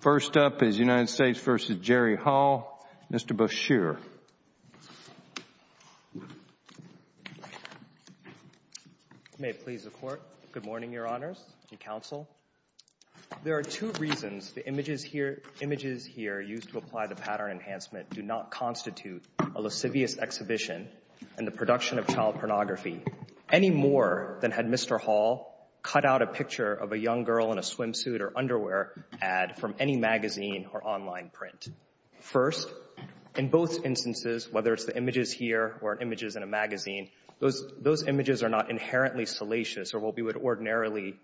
First up is United States v. Jerry Hall. Mr. Boucher. May it please the Court. Good morning, Your Honors and Counsel. There are two reasons the images here used to apply the pattern enhancement do not constitute a lascivious exhibition and the production of child pornography, any more than had Mr. Hall cut out a picture of a young girl in a swimsuit or underwear ad from any magazine or online print. First, in both instances, whether it's the images here or images in a magazine, those images are not inherently salacious or what we would ordinarily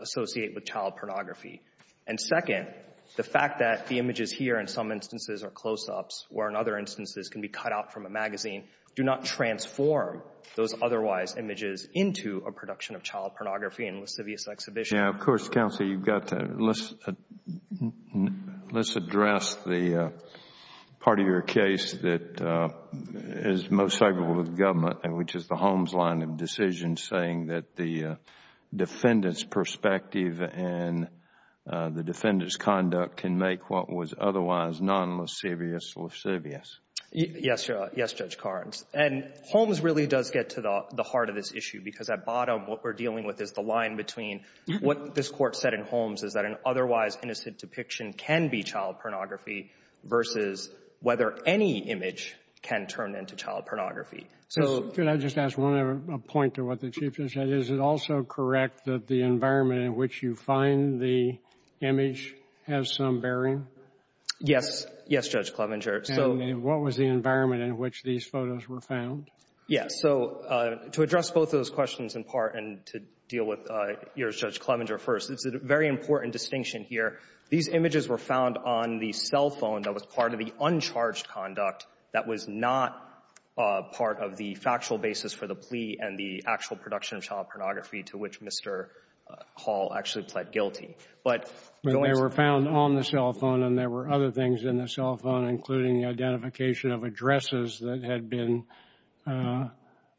associate with child pornography. And second, the fact that the images here in some instances are close-ups where in other instances can be cut out from a magazine, do not transform those otherwise images into a production of child pornography and lascivious exhibition. Yeah, of course, Counselor, you've got that. Let's address the part of your case that is most favorable to the government, which is the Holmes line of decision saying that the defendant's perspective and the defendant's conduct can make what was otherwise non-lascivious lascivious. Yes, Your Honor. Yes, Judge Carnes. And Holmes really does get to the heart of this issue because at bottom what we're dealing with is the line between what this Court said in Holmes is that an otherwise innocent depiction can be child pornography versus whether any image can turn into child pornography. Could I just ask one other point to what the Chief just said? Is it also correct that the environment in which you find the image has some bearing? Yes. Yes, Judge Clevenger. And what was the environment in which these photos were found? Yes. So to address both those questions in part and to deal with yours, Judge Clevenger, first, it's a very important distinction here. These images were found on the cell phone that was part of the uncharged conduct that was not part of the factual basis for the plea and the actual production of child pornography to which Mr. Hall actually pled guilty. But the way they were found on the cell phone and there were other things in the cell phone, including the identification of addresses that had been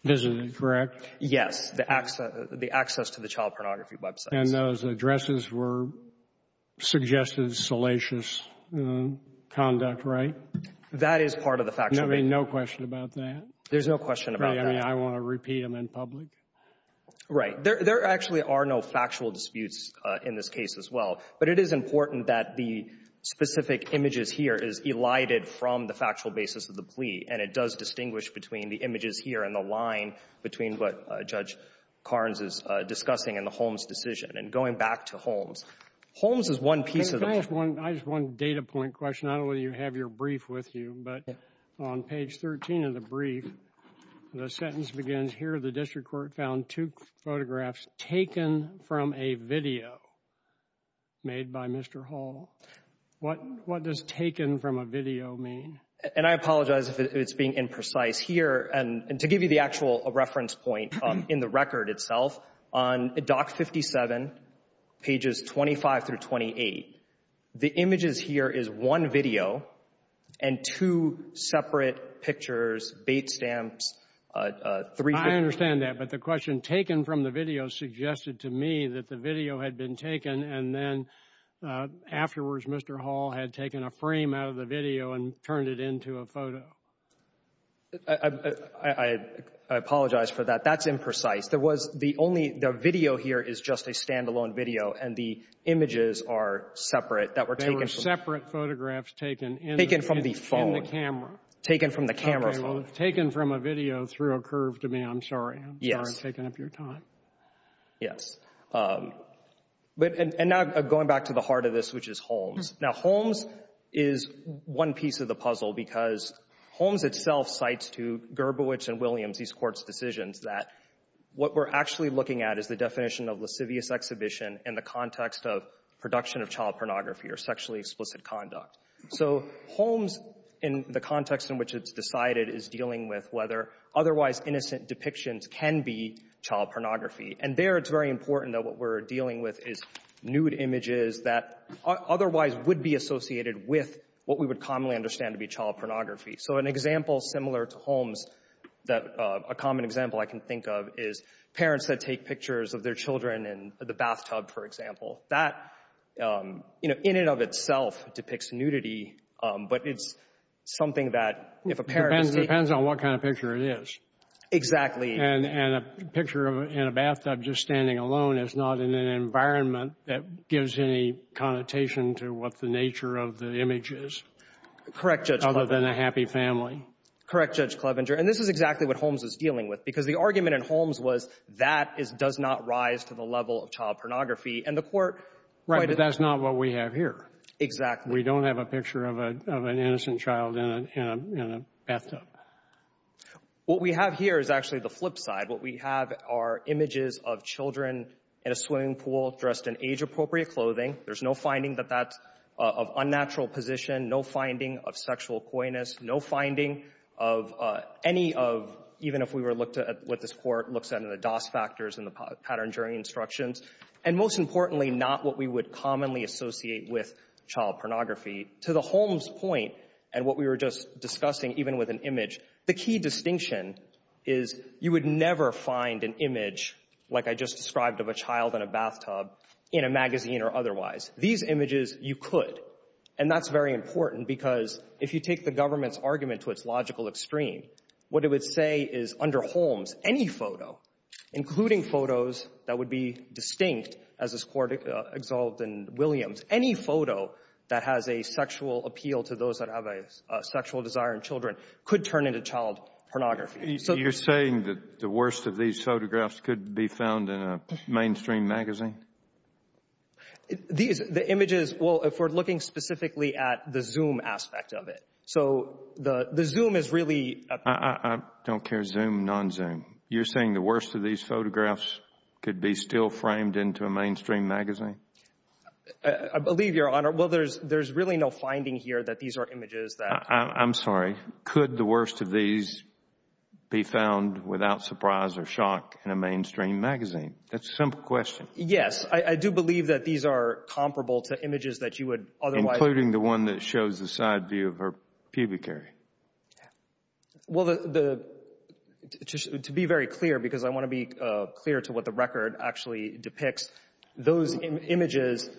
visited, correct? Yes. The access to the child pornography websites. And those addresses were suggested salacious conduct, right? That is part of the factual basis. I mean, no question about that? There's no question about that. I mean, I want to repeat them in public. Right. There actually are no factual disputes in this case as well. But it is important that the specific images here is elided from the factual basis of the plea, and it does distinguish between the images here and the line between what Judge Carnes is discussing and the Holmes decision. And going back to Holmes, Holmes is one piece of the — I just want a data point question. I don't know whether you have your brief with you. But on page 13 of the brief, the sentence begins, here the district court found two photographs taken from a video made by Mr. Hall. What does taken from a video mean? And I apologize if it's being imprecise here. And to give you the actual reference point in the record itself, on Doc 57, pages 25 through 28, the images here is one video and two separate pictures, bait stamps. I understand that. But the question taken from the video suggested to me that the video had been taken and then afterwards Mr. Hall had taken a frame out of the video and turned it into a photo. I apologize for that. That's imprecise. There was the only — the video here is just a standalone video, and the images are separate. They were separate photographs taken in the camera. Taken from the phone. Okay, well, taken from a video threw a curve to me. I'm sorry. I'm sorry I'm taking up your time. Yes. But — and now going back to the heart of this, which is Holmes. Now, Holmes is one piece of the puzzle because Holmes itself cites to Gerbowich and Williams, these courts' decisions, that what we're actually looking at is the definition of lascivious exhibition in the context of production of child pornography or sexually explicit conduct. So Holmes, in the context in which it's decided, is dealing with whether otherwise innocent depictions can be child pornography. And there it's very important that what we're dealing with is nude images that otherwise would be associated with what we would commonly understand to be child pornography. So an example similar to Holmes that — a common example I can think of is parents that take pictures of their children in the bathtub, for example. That, you know, in and of itself depicts nudity, but it's something that if a parent — Depends on what kind of picture it is. Exactly. And a picture in a bathtub just standing alone is not in an environment that gives any connotation to what the nature of the image is. Correct, Judge Clevenger. Other than a happy family. Correct, Judge Clevenger. And this is exactly what Holmes is dealing with because the argument in Holmes was that does not rise to the level of child pornography. And the Court — Right. But that's not what we have here. Exactly. We don't have a picture of an innocent child in a bathtub. What we have here is actually the flip side. What we have are images of children in a swimming pool dressed in age-appropriate clothing. There's no finding that that's of unnatural position, no finding of sexual coyness, no finding of any of — even if we were to look at what this Court looks at in the DOS factors and the pattern-jurying instructions, and most importantly, not what we would commonly associate with child pornography. To the Holmes point and what we were just discussing, even with an image, the key distinction is you would never find an image, like I just described, of a child in a bathtub in a magazine or otherwise. These images, you could. And that's very important because if you take the government's argument to its logical extreme, what it would say is under Holmes, any photo, including photos that would be distinct, as this Court exolved in Williams, any photo that has a sexual appeal to those that have a sexual desire in children could turn into child pornography. You're saying that the worst of these photographs could be found in a mainstream magazine? These — the images — well, if we're looking specifically at the Zoom aspect of it. So the Zoom is really — I don't care, Zoom, non-Zoom. You're saying the worst of these photographs could be still framed into a mainstream magazine? I believe, Your Honor. Well, there's really no finding here that these are images that — I'm sorry. Could the worst of these be found without surprise or shock in a mainstream magazine? That's a simple question. Yes. I do believe that these are comparable to images that you would otherwise — Including the one that shows the side view of her pubic area. Well, to be very clear, because I want to be clear to what the record actually depicts, those images,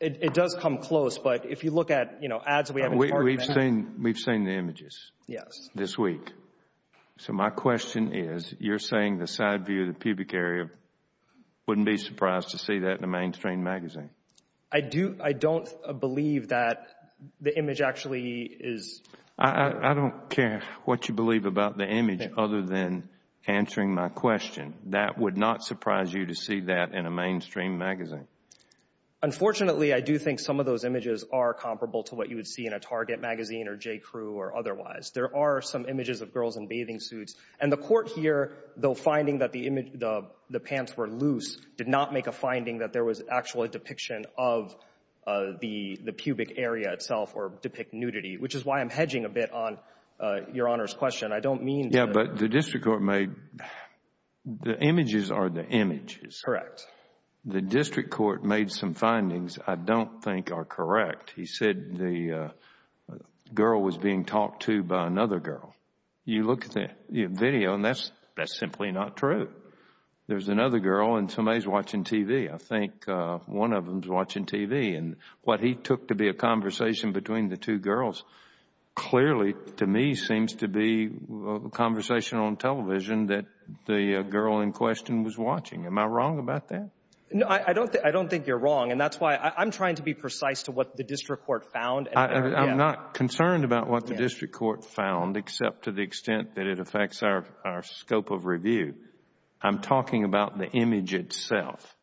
it does come close. But if you look at, you know, ads that we have in the park — We've seen the images. Yes. This week. So my question is, you're saying the side view of the pubic area, wouldn't be surprised to see that in a mainstream magazine? I don't believe that the image actually is — I don't care what you believe about the image other than answering my question. That would not surprise you to see that in a mainstream magazine? Unfortunately, I do think some of those images are comparable to what you would see in a Target magazine or J. Crew or otherwise. There are some images of girls in bathing suits. And the court here, though finding that the pants were loose, did not make a finding that there was actually a depiction of the pubic area itself or depict nudity, which is why I'm hedging a bit on Your Honor's question. I don't mean that — Yeah, but the district court made — the images are the images. Correct. The district court made some findings I don't think are correct. He said the girl was being talked to by another girl. You look at the video, and that's simply not true. There's another girl, and somebody's watching TV. I think one of them's watching TV. And what he took to be a conversation between the two girls clearly, to me, seems to be a conversation on television that the girl in question was watching. Am I wrong about that? No, I don't think you're wrong. And that's why I'm trying to be precise to what the district court found. I'm not concerned about what the district court found except to the extent that it affects our scope of review. I'm talking about the image itself.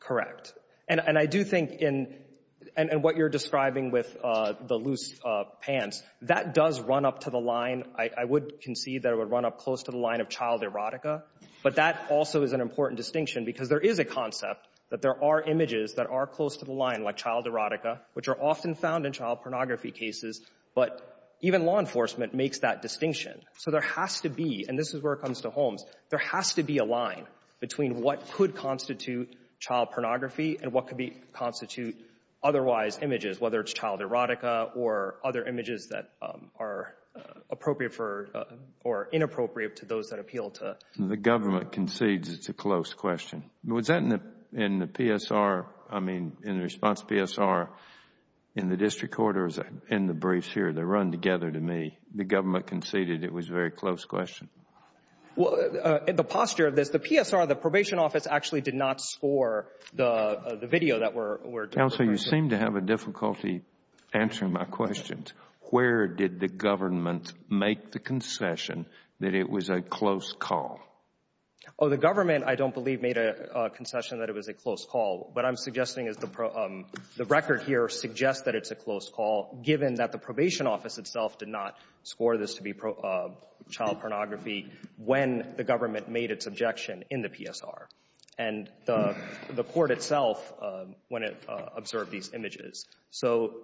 Correct. And I do think in — and what you're describing with the loose pants, that does run up to the line. I would concede that it would run up close to the line of child erotica, but that also is an important distinction because there is a concept that there are images that are close to the line, like child erotica, which are often found in child pornography cases, but even law enforcement makes that distinction. So there has to be, and this is where it comes to Holmes, there has to be a line between what could constitute child pornography and what could constitute otherwise images, whether it's child erotica or other images that are appropriate for or inappropriate to those that appeal to. The government concedes it's a close question. Was that in the PSR, I mean, in the response PSR in the district court or in the briefs here? They run together to me. The government conceded it was a very close question. Well, the posture of this, the PSR, the probation office, actually did not score the video that we're — Counsel, you seem to have a difficulty answering my questions. Where did the government make the concession that it was a close call? Oh, the government, I don't believe, made a concession that it was a close call. What I'm suggesting is the record here suggests that it's a close call, given that the probation office itself did not score this to be child pornography when the government made its objection in the PSR and the court itself when it observed these images. So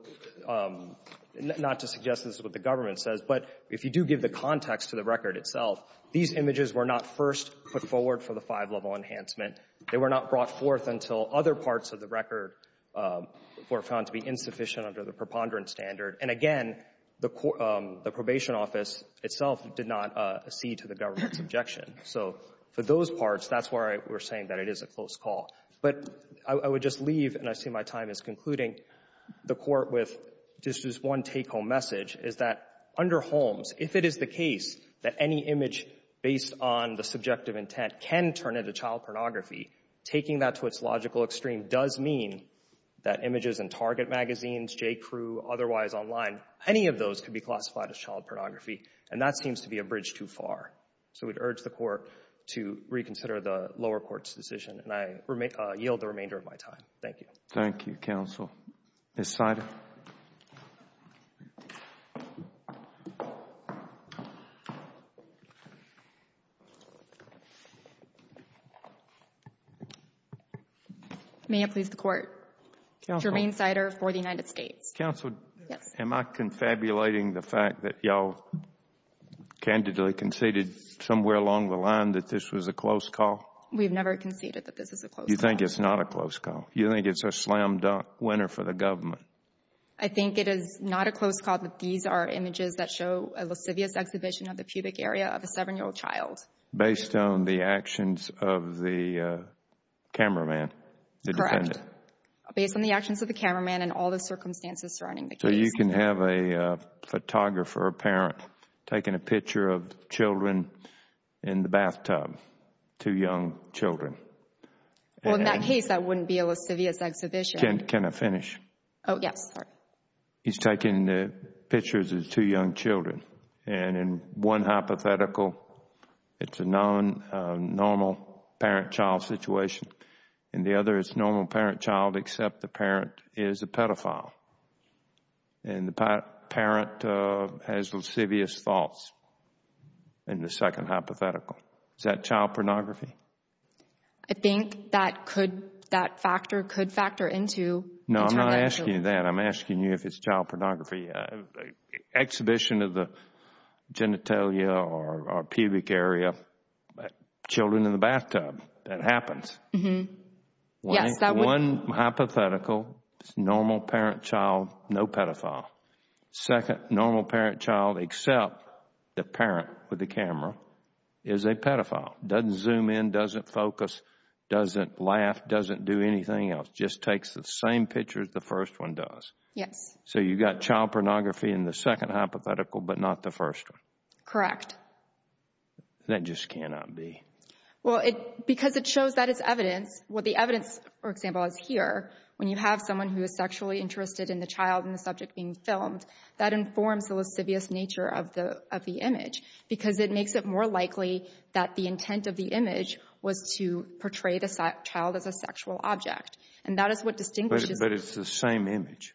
not to suggest this is what the government says, but if you do give the context to the record itself, these images were not first put forward for the five-level enhancement. They were not brought forth until other parts of the record were found to be insufficient under the preponderance standard. And again, the probation office itself did not accede to the government's objection. So for those parts, that's why we're saying that it is a close call. But I would just leave, and I see my time is concluding, the Court with just this one is that under Holmes, if it is the case that any image based on the subjective intent can turn into child pornography, taking that to its logical extreme does mean that images in Target magazines, J.Crew, otherwise online, any of those could be classified as child pornography, and that seems to be a bridge too far. So we'd urge the Court to reconsider the lower court's decision, and I yield the remainder of my time. Thank you. Thank you, Counsel. Ms. Sider. May it please the Court. Jermaine Sider for the United States. Counsel, am I confabulating the fact that you all candidly conceded somewhere along the line that this was a close call? We've never conceded that this is a close call. You think it's not a close call? You think it's a slam-dunk winner for the government? I think it is not a close call that these are images that show a lascivious exhibition of the pubic area of a 7-year-old child. Based on the actions of the cameraman, the defendant? Correct. Based on the actions of the cameraman and all the circumstances surrounding the case. So you can have a photographer, a parent, taking a picture of children in the bathtub, two young children. Well, in that case, that wouldn't be a lascivious exhibition. Can I finish? Oh, yes. He's taking pictures of two young children. And in one hypothetical, it's a non-normal parent-child situation. In the other, it's a normal parent-child, except the parent is a pedophile. And the parent has lascivious thoughts in the second hypothetical. Is that child pornography? I think that could, that factor could factor into. No, I'm not asking you that. I'm asking you if it's child pornography. Exhibition of the genitalia or pubic area, children in the bathtub, that happens. Yes, that would. One hypothetical, normal parent-child, no pedophile. Second, normal parent-child, except the parent with the camera, is a pedophile. Doesn't zoom in, doesn't focus, doesn't laugh, doesn't do anything else. Just takes the same picture as the first one does. Yes. So you've got child pornography in the second hypothetical, but not the first one. Correct. That just cannot be. Well, because it shows that as evidence. Well, the evidence, for example, is here. When you have someone who is sexually interested in the child and the subject being filmed, that informs the lascivious nature of the image, because it makes it more likely that the intent of the image was to portray the child as a sexual object. And that is what distinguishes. But it's the same image.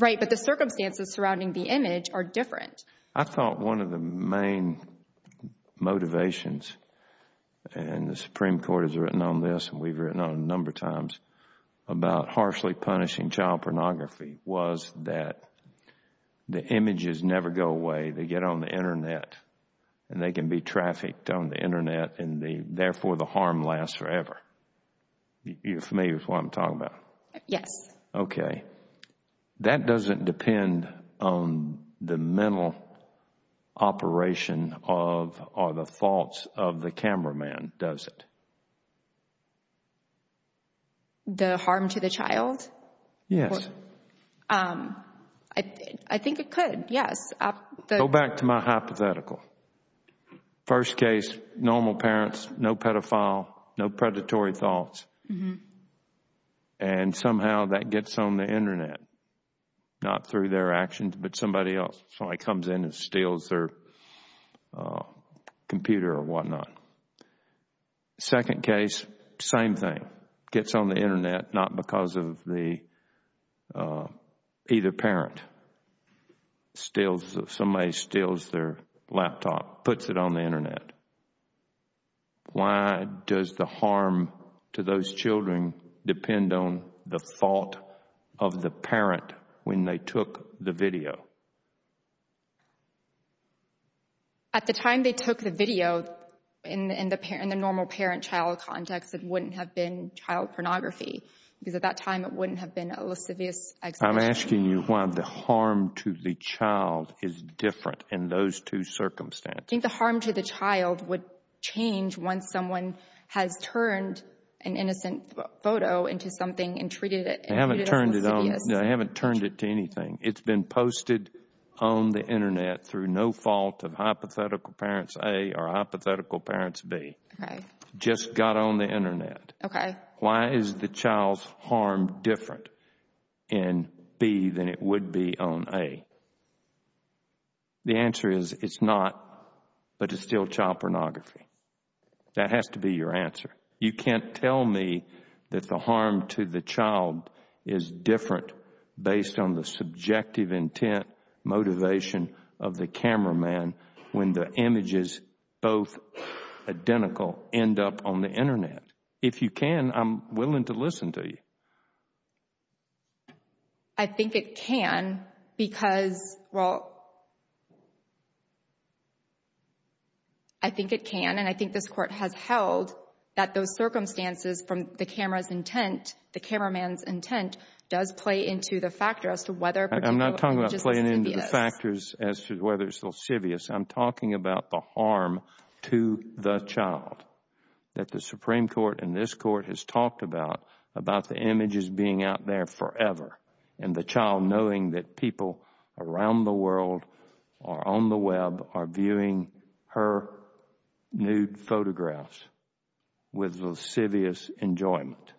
Right. But the circumstances surrounding the image are different. I thought one of the main motivations, and the Supreme Court has written on this and we've written on it a number of times, about harshly punishing child pornography was that the images never go away. They get on the Internet and they can be trafficked on the Internet and therefore the harm lasts forever. You're familiar with what I'm talking about? Yes. Okay. That doesn't depend on the mental operation or the thoughts of the cameraman, does it? The harm to the child? Yes. I think it could, yes. Go back to my hypothetical. First case, normal parents, no pedophile, no predatory thoughts. And somehow that gets on the Internet, not through their actions, but somebody else comes in and steals their computer or whatnot. Second case, same thing. Gets on the Internet, not because of either parent. Somebody steals their laptop, puts it on the Internet. Why does the harm to those children depend on the thought of the parent when they took the video? At the time they took the video, in the normal parent-child context, it wouldn't have been child pornography because at that time it wouldn't have been a lascivious act. I'm asking you why the harm to the child is different in those two circumstances. I think the harm to the child would change once someone has turned an innocent photo into something and treated it as lascivious. I haven't turned it on. I haven't turned it to anything. It's been posted on the Internet through no fault of hypothetical parents A or hypothetical parents B. Just got on the Internet. Okay. Why is the child's harm different in B than it would be on A? The answer is it's not, but it's still child pornography. That has to be your answer. You can't tell me that the harm to the child is different based on the subjective intent, motivation of the cameraman when the images, both identical, end up on the Internet. If you can, I'm willing to listen to you. I think it can because, well, I think it can, and I think this Court has held that those circumstances from the cameraman's intent does play into the factor as to whether a particular image is lascivious. I'm not talking about playing into the factors as to whether it's lascivious. I'm talking about the harm to the child that the Supreme Court and this Court have talked about, about the images being out there forever and the child knowing that people around the world or on the Web are viewing her nude photographs with lascivious enjoyment.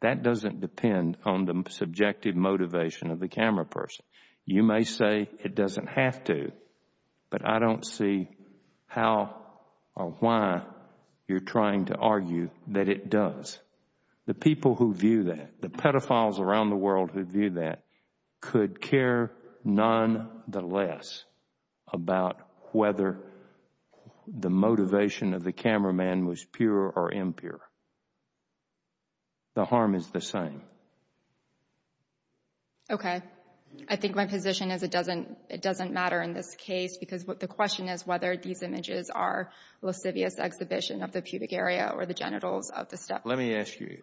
That doesn't depend on the subjective motivation of the camera person. You may say it doesn't have to, but I don't see how or why you're trying to argue that it does. The people who view that, the pedophiles around the world who view that, could care nonetheless about whether the motivation of the cameraman was pure or impure. The harm is the same. Okay. I think my position is it doesn't matter in this case because the question is whether these images are lascivious exhibition of the pubic area or the genitals of the step. Let me ask you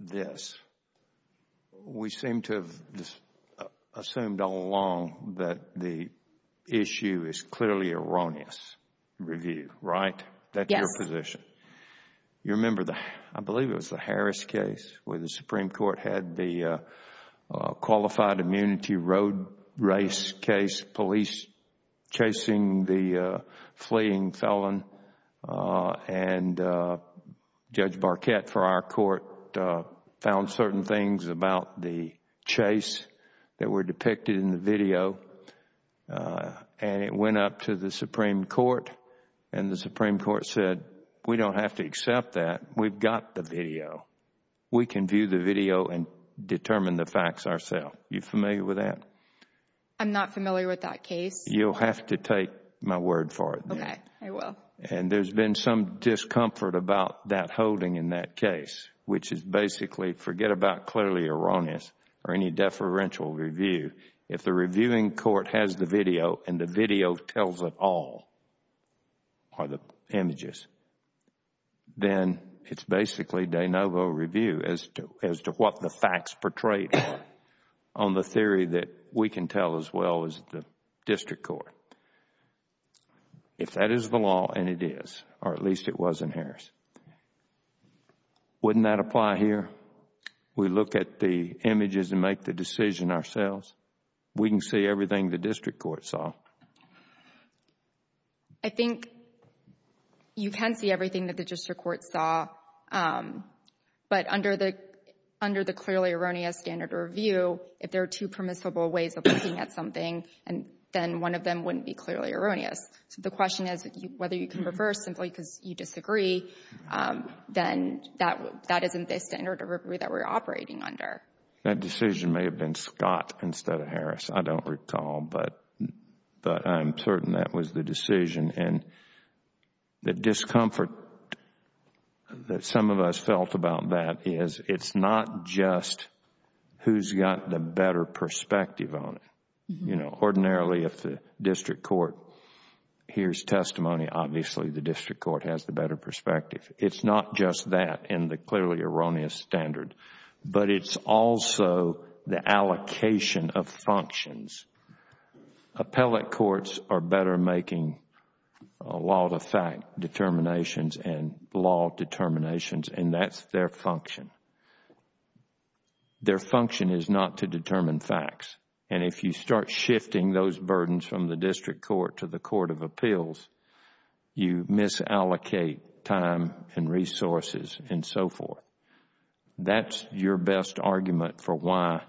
this. We seem to have assumed all along that the issue is clearly erroneous review, right? Yes. That's your position. You remember, I believe it was the Harris case where the Supreme Court had the qualified immunity road race case police chasing the fleeing felon and Judge Barquette for our court found certain things about the chase that were depicted in the video and it went up to the Supreme Court and the Supreme Court said we don't have to accept that. We've got the video. We can view the video and determine the facts ourselves. Are you familiar with that? I'm not familiar with that case. You'll have to take my word for it. Okay. I will. And there's been some discomfort about that holding in that case, which is basically forget about clearly erroneous or any deferential review. If the reviewing court has the video and the video tells it all, or the images, then it's basically de novo review as to what the facts portrayed on the theory that we can tell as well as the district court. If that is the law, and it is, or at least it was in Harris, wouldn't that apply here? We look at the images and make the decision ourselves. We can see everything the district court saw. I think you can see everything that the district court saw, but under the clearly erroneous standard of review, if there are two permissible ways of looking at something, then one of them wouldn't be clearly erroneous. So the question is whether you can reverse simply because you disagree, then that isn't the standard of review that we're operating under. That decision may have been Scott instead of Harris. I don't recall, but I'm certain that was the decision. And the discomfort that some of us felt about that is it's not just who's got the better perspective on it. Ordinarily, if the district court hears testimony, obviously the district court has the better perspective. It's not just that and the clearly erroneous standard, but it's also the allocation of functions. Appellate courts are better making a lot of fact determinations and law determinations, and that's their function. Their function is not to determine facts. And if you start shifting those burdens from the district court to the court of appeals, you misallocate time and resources and so forth. That's your best argument for why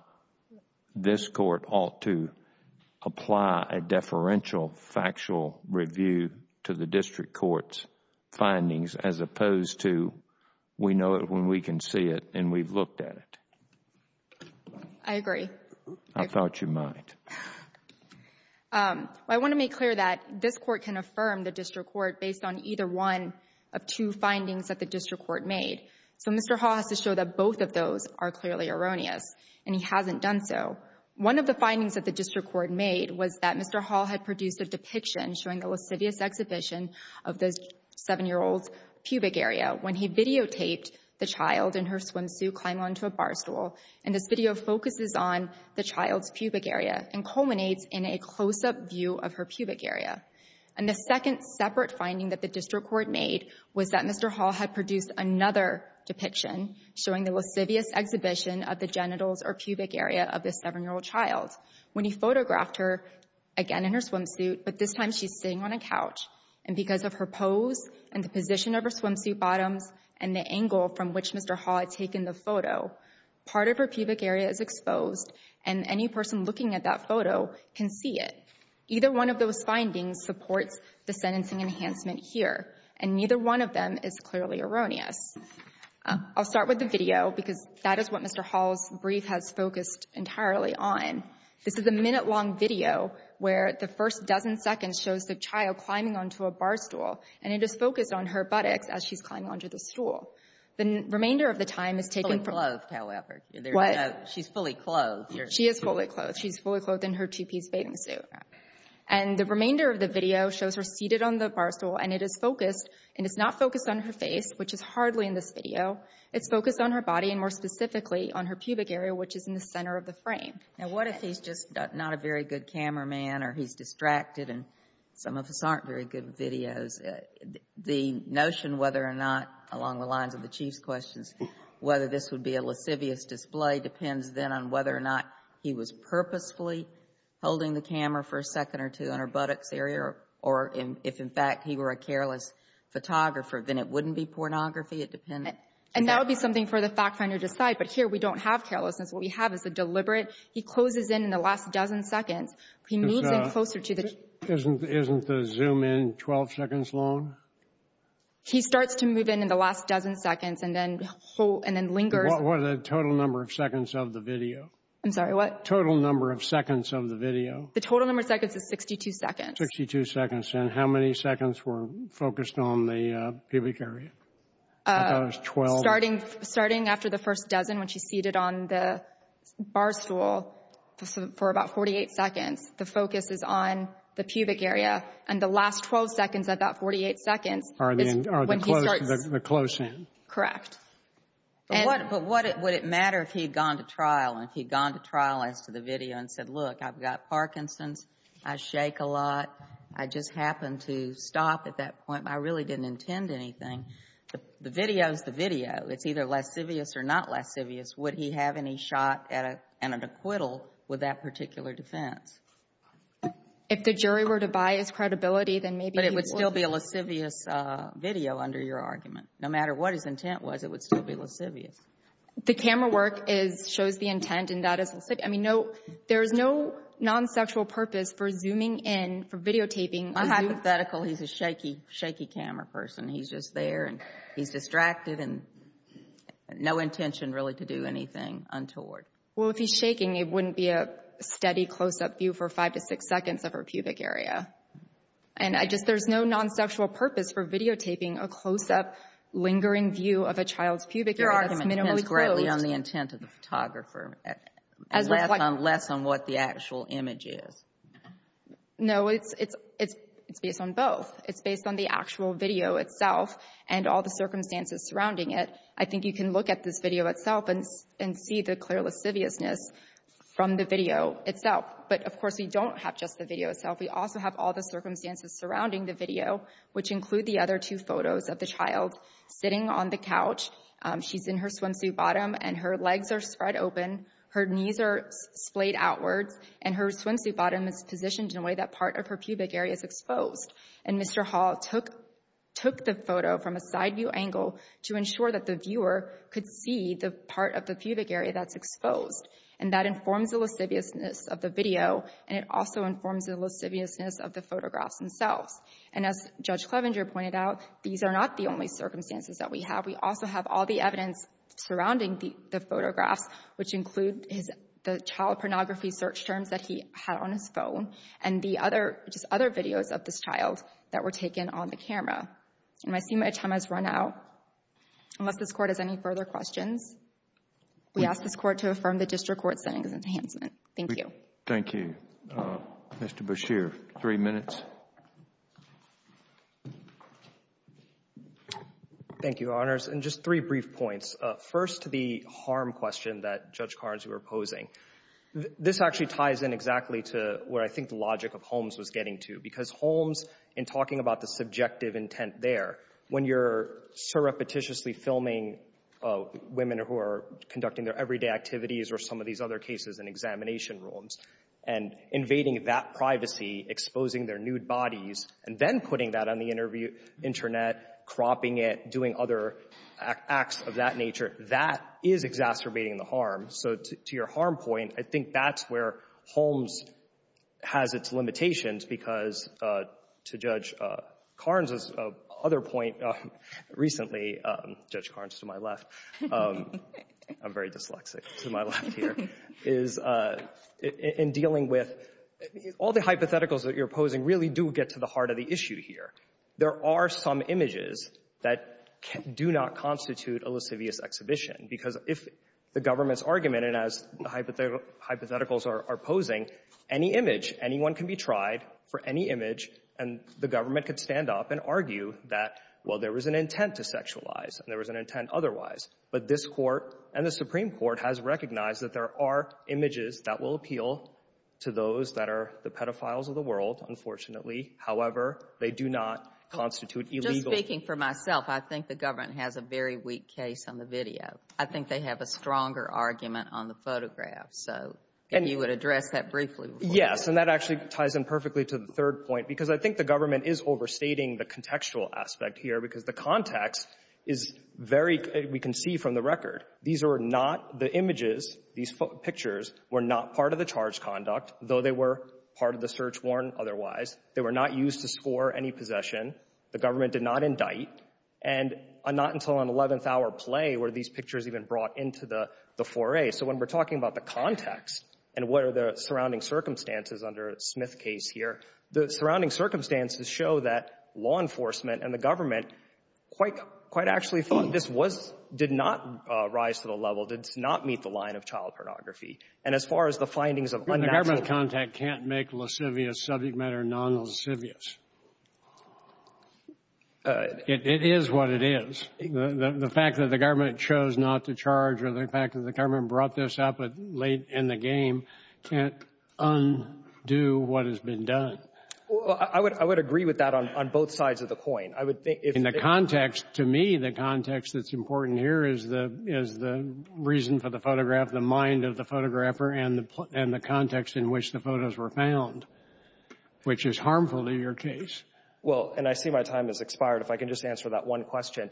this court ought to apply a deferential factual review to the district court's findings as opposed to we know it when we can see it and we've looked at it. I agree. I thought you might. I want to make clear that this court can affirm the district court based on either one of two findings that the district court made. So Mr. Hall has to show that both of those are clearly erroneous, and he hasn't done so. One of the findings that the district court made was that Mr. Hall had produced a depiction showing a lascivious exhibition of the 7-year-old's pubic area when he videotaped the child in her swimsuit climbing onto a bar stool. And this video focuses on the child's pubic area and culminates in a close-up view of her pubic area. And the second separate finding that the district court made was that Mr. Hall had produced another depiction showing the lascivious exhibition of the genitals or pubic area of this 7-year-old child when he photographed her again in her swimsuit, but this time she's sitting on a couch. And because of her pose and the position of her swimsuit bottoms and the angle from which Mr. Hall had taken the photo, part of her pubic area is exposed and any person looking at that photo can see it. Either one of those findings supports the sentencing enhancement here, and neither one of them is clearly erroneous. I'll start with the video, because that is what Mr. Hall's brief has focused entirely on. This is a minute-long video where the first dozen seconds shows the child climbing onto a bar stool, and it is focused on her buttocks as she's climbing onto the stool. The remainder of the time is taken from her. It's fully clothed, however. What? She's fully clothed. She is fully clothed. She's fully clothed in her two-piece bathing suit. And the remainder of the video shows her seated on the bar stool, and it is focused and it's not focused on her face, which is hardly in this video. It's focused on her body and, more specifically, on her pubic area, which is in the center of the frame. Now, what if he's just not a very good cameraman or he's distracted and some of us aren't very good with videos? The notion whether or not, along the lines of the Chief's questions, whether this would be a lascivious display depends then on whether or not he was purposefully holding the camera for a second or two on her buttocks area, or if, in fact, he were a careless photographer, then it wouldn't be pornography. It depends. And that would be something for the fact finder to decide. But here we don't have carelessness. What we have is a deliberate. He closes in in the last dozen seconds. He moves in closer to the child. Isn't the zoom in 12 seconds long? He starts to move in in the last dozen seconds and then lingers. What are the total number of seconds of the video? I'm sorry, what? Total number of seconds of the video. The total number of seconds is 62 seconds. 62 seconds. And how many seconds were focused on the pubic area? I thought it was 12. Starting after the first dozen when she's seated on the bar stool for about 48 seconds, the focus is on the pubic area. And the last 12 seconds of that 48 seconds is when he starts to move in. Correct. But would it matter if he had gone to trial and if he had gone to trial as to the video and said, look, I've got Parkinson's. I shake a lot. I just happened to stop at that point. I really didn't intend anything. The video is the video. It's either lascivious or not lascivious. Would he have any shot at an acquittal with that particular defense? If the jury were to buy his credibility, then maybe he would. But it would still be a lascivious video under your argument. No matter what his intent was, it would still be lascivious. The camera work shows the intent and that is lascivious. I mean, there is no non-sexual purpose for zooming in, for videotaping. I'm hypothetical. He's a shaky, shaky camera person. He's just there and he's distracted and no intention really to do anything untoward. Well, if he's shaking, it wouldn't be a steady close-up view for five to six seconds of her pubic area. And there's no non-sexual purpose for videotaping a close-up, lingering view of a child's pubic area that's minimally closed. Your argument depends greatly on the intent of the photographer. Less on what the actual image is. No, it's based on both. It's based on the actual video itself and all the circumstances surrounding it. I think you can look at this video itself and see the clear lasciviousness from the video itself. But, of course, we don't have just the video itself. We also have all the circumstances surrounding the video, which include the other two photos of the child sitting on the couch. She's in her swimsuit bottom and her legs are spread open. Her knees are splayed outwards. And her swimsuit bottom is positioned in a way that part of her pubic area is exposed. And Mr. Hall took the photo from a side-view angle to ensure that the viewer could see the part of the pubic area that's exposed. And that informs the lasciviousness of the video, and it also informs the lasciviousness of the photographs themselves. And as Judge Clevenger pointed out, these are not the only circumstances that we have. We also have all the evidence surrounding the photographs, which include the child pornography search terms that he had on his phone and the other videos of this child that were taken on the camera. And my time has run out. Unless this Court has any further questions, we ask this Court to affirm the district court's sentence enhancement. Thank you. Thank you. Mr. Bashir, three minutes. Thank you, Your Honors. And just three brief points. First, the harm question that Judge Carnes was posing. This actually ties in exactly to where I think the logic of Holmes was getting to. Because Holmes, in talking about the subjective intent there, when you're so repetitiously filming women who are conducting their everyday activities or some of these other cases in examination rooms, and invading that privacy, exposing their nude bodies, and then putting that on the Internet, cropping it, doing other acts of that nature, that is exacerbating the harm. So to your harm point, I think that's where Holmes has its limitations. Because to Judge Carnes' other point recently, Judge Carnes to my left, I'm very dyslexic to my left here, is in dealing with all the hypotheticals that you're posing really do get to the heart of the issue here. There are some images that do not constitute a lascivious exhibition. Because if the government's argument, and as the hypotheticals are posing, any image, anyone can be tried for any image, and the government could stand up and argue that, well, there was an intent to sexualize, and there was an intent otherwise. But this Court and the Supreme Court has recognized that there are images that will appeal to those that are the pedophiles of the world, unfortunately. However, they do not constitute illegal. Speaking for myself, I think the government has a very weak case on the video. I think they have a stronger argument on the photograph. So if you would address that briefly. Yes. And that actually ties in perfectly to the third point, because I think the government is overstating the contextual aspect here, because the context is very we can see from the record. These are not the images. These pictures were not part of the charge conduct, though they were part of the search warrant otherwise. They were not used to score any possession. The government did not indict, and not until an 11th-hour play were these pictures even brought into the foray. So when we're talking about the context and what are the surrounding circumstances under Smith's case here, the surrounding circumstances show that law enforcement and the government quite actually thought this was did not rise to the level, did not meet the line of child pornography. And as far as the findings of unnatural contact can't make lascivious subject matter non-lascivious. It is what it is. The fact that the government chose not to charge or the fact that the government brought this up late in the game can't undo what has been done. I would agree with that on both sides of the coin. In the context, to me, the context that's important here is the reason for the photograph, the mind of the photographer, and the context in which the photos were found, which is harmful to your case. Well, and I see my time has expired. If I can just answer that one question.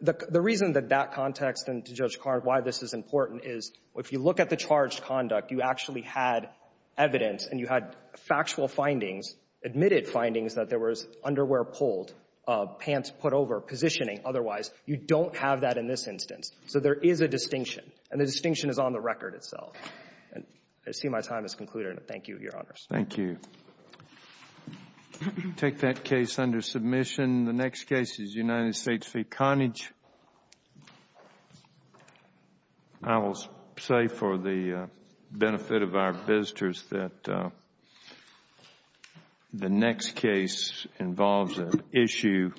The reason that that context and, to Judge Carr, why this is important is if you look at the charge conduct, you actually had evidence and you had factual findings, admitted findings that there was underwear pulled, pants put over, positioning otherwise. You don't have that in this instance. So there is a distinction. And the distinction is on the record itself. And I see my time has concluded. Thank you, Your Honors. Thank you. Take that case under submission. The next case is United States v. Connage. I will say for the benefit of our visitors that the next case involves an issue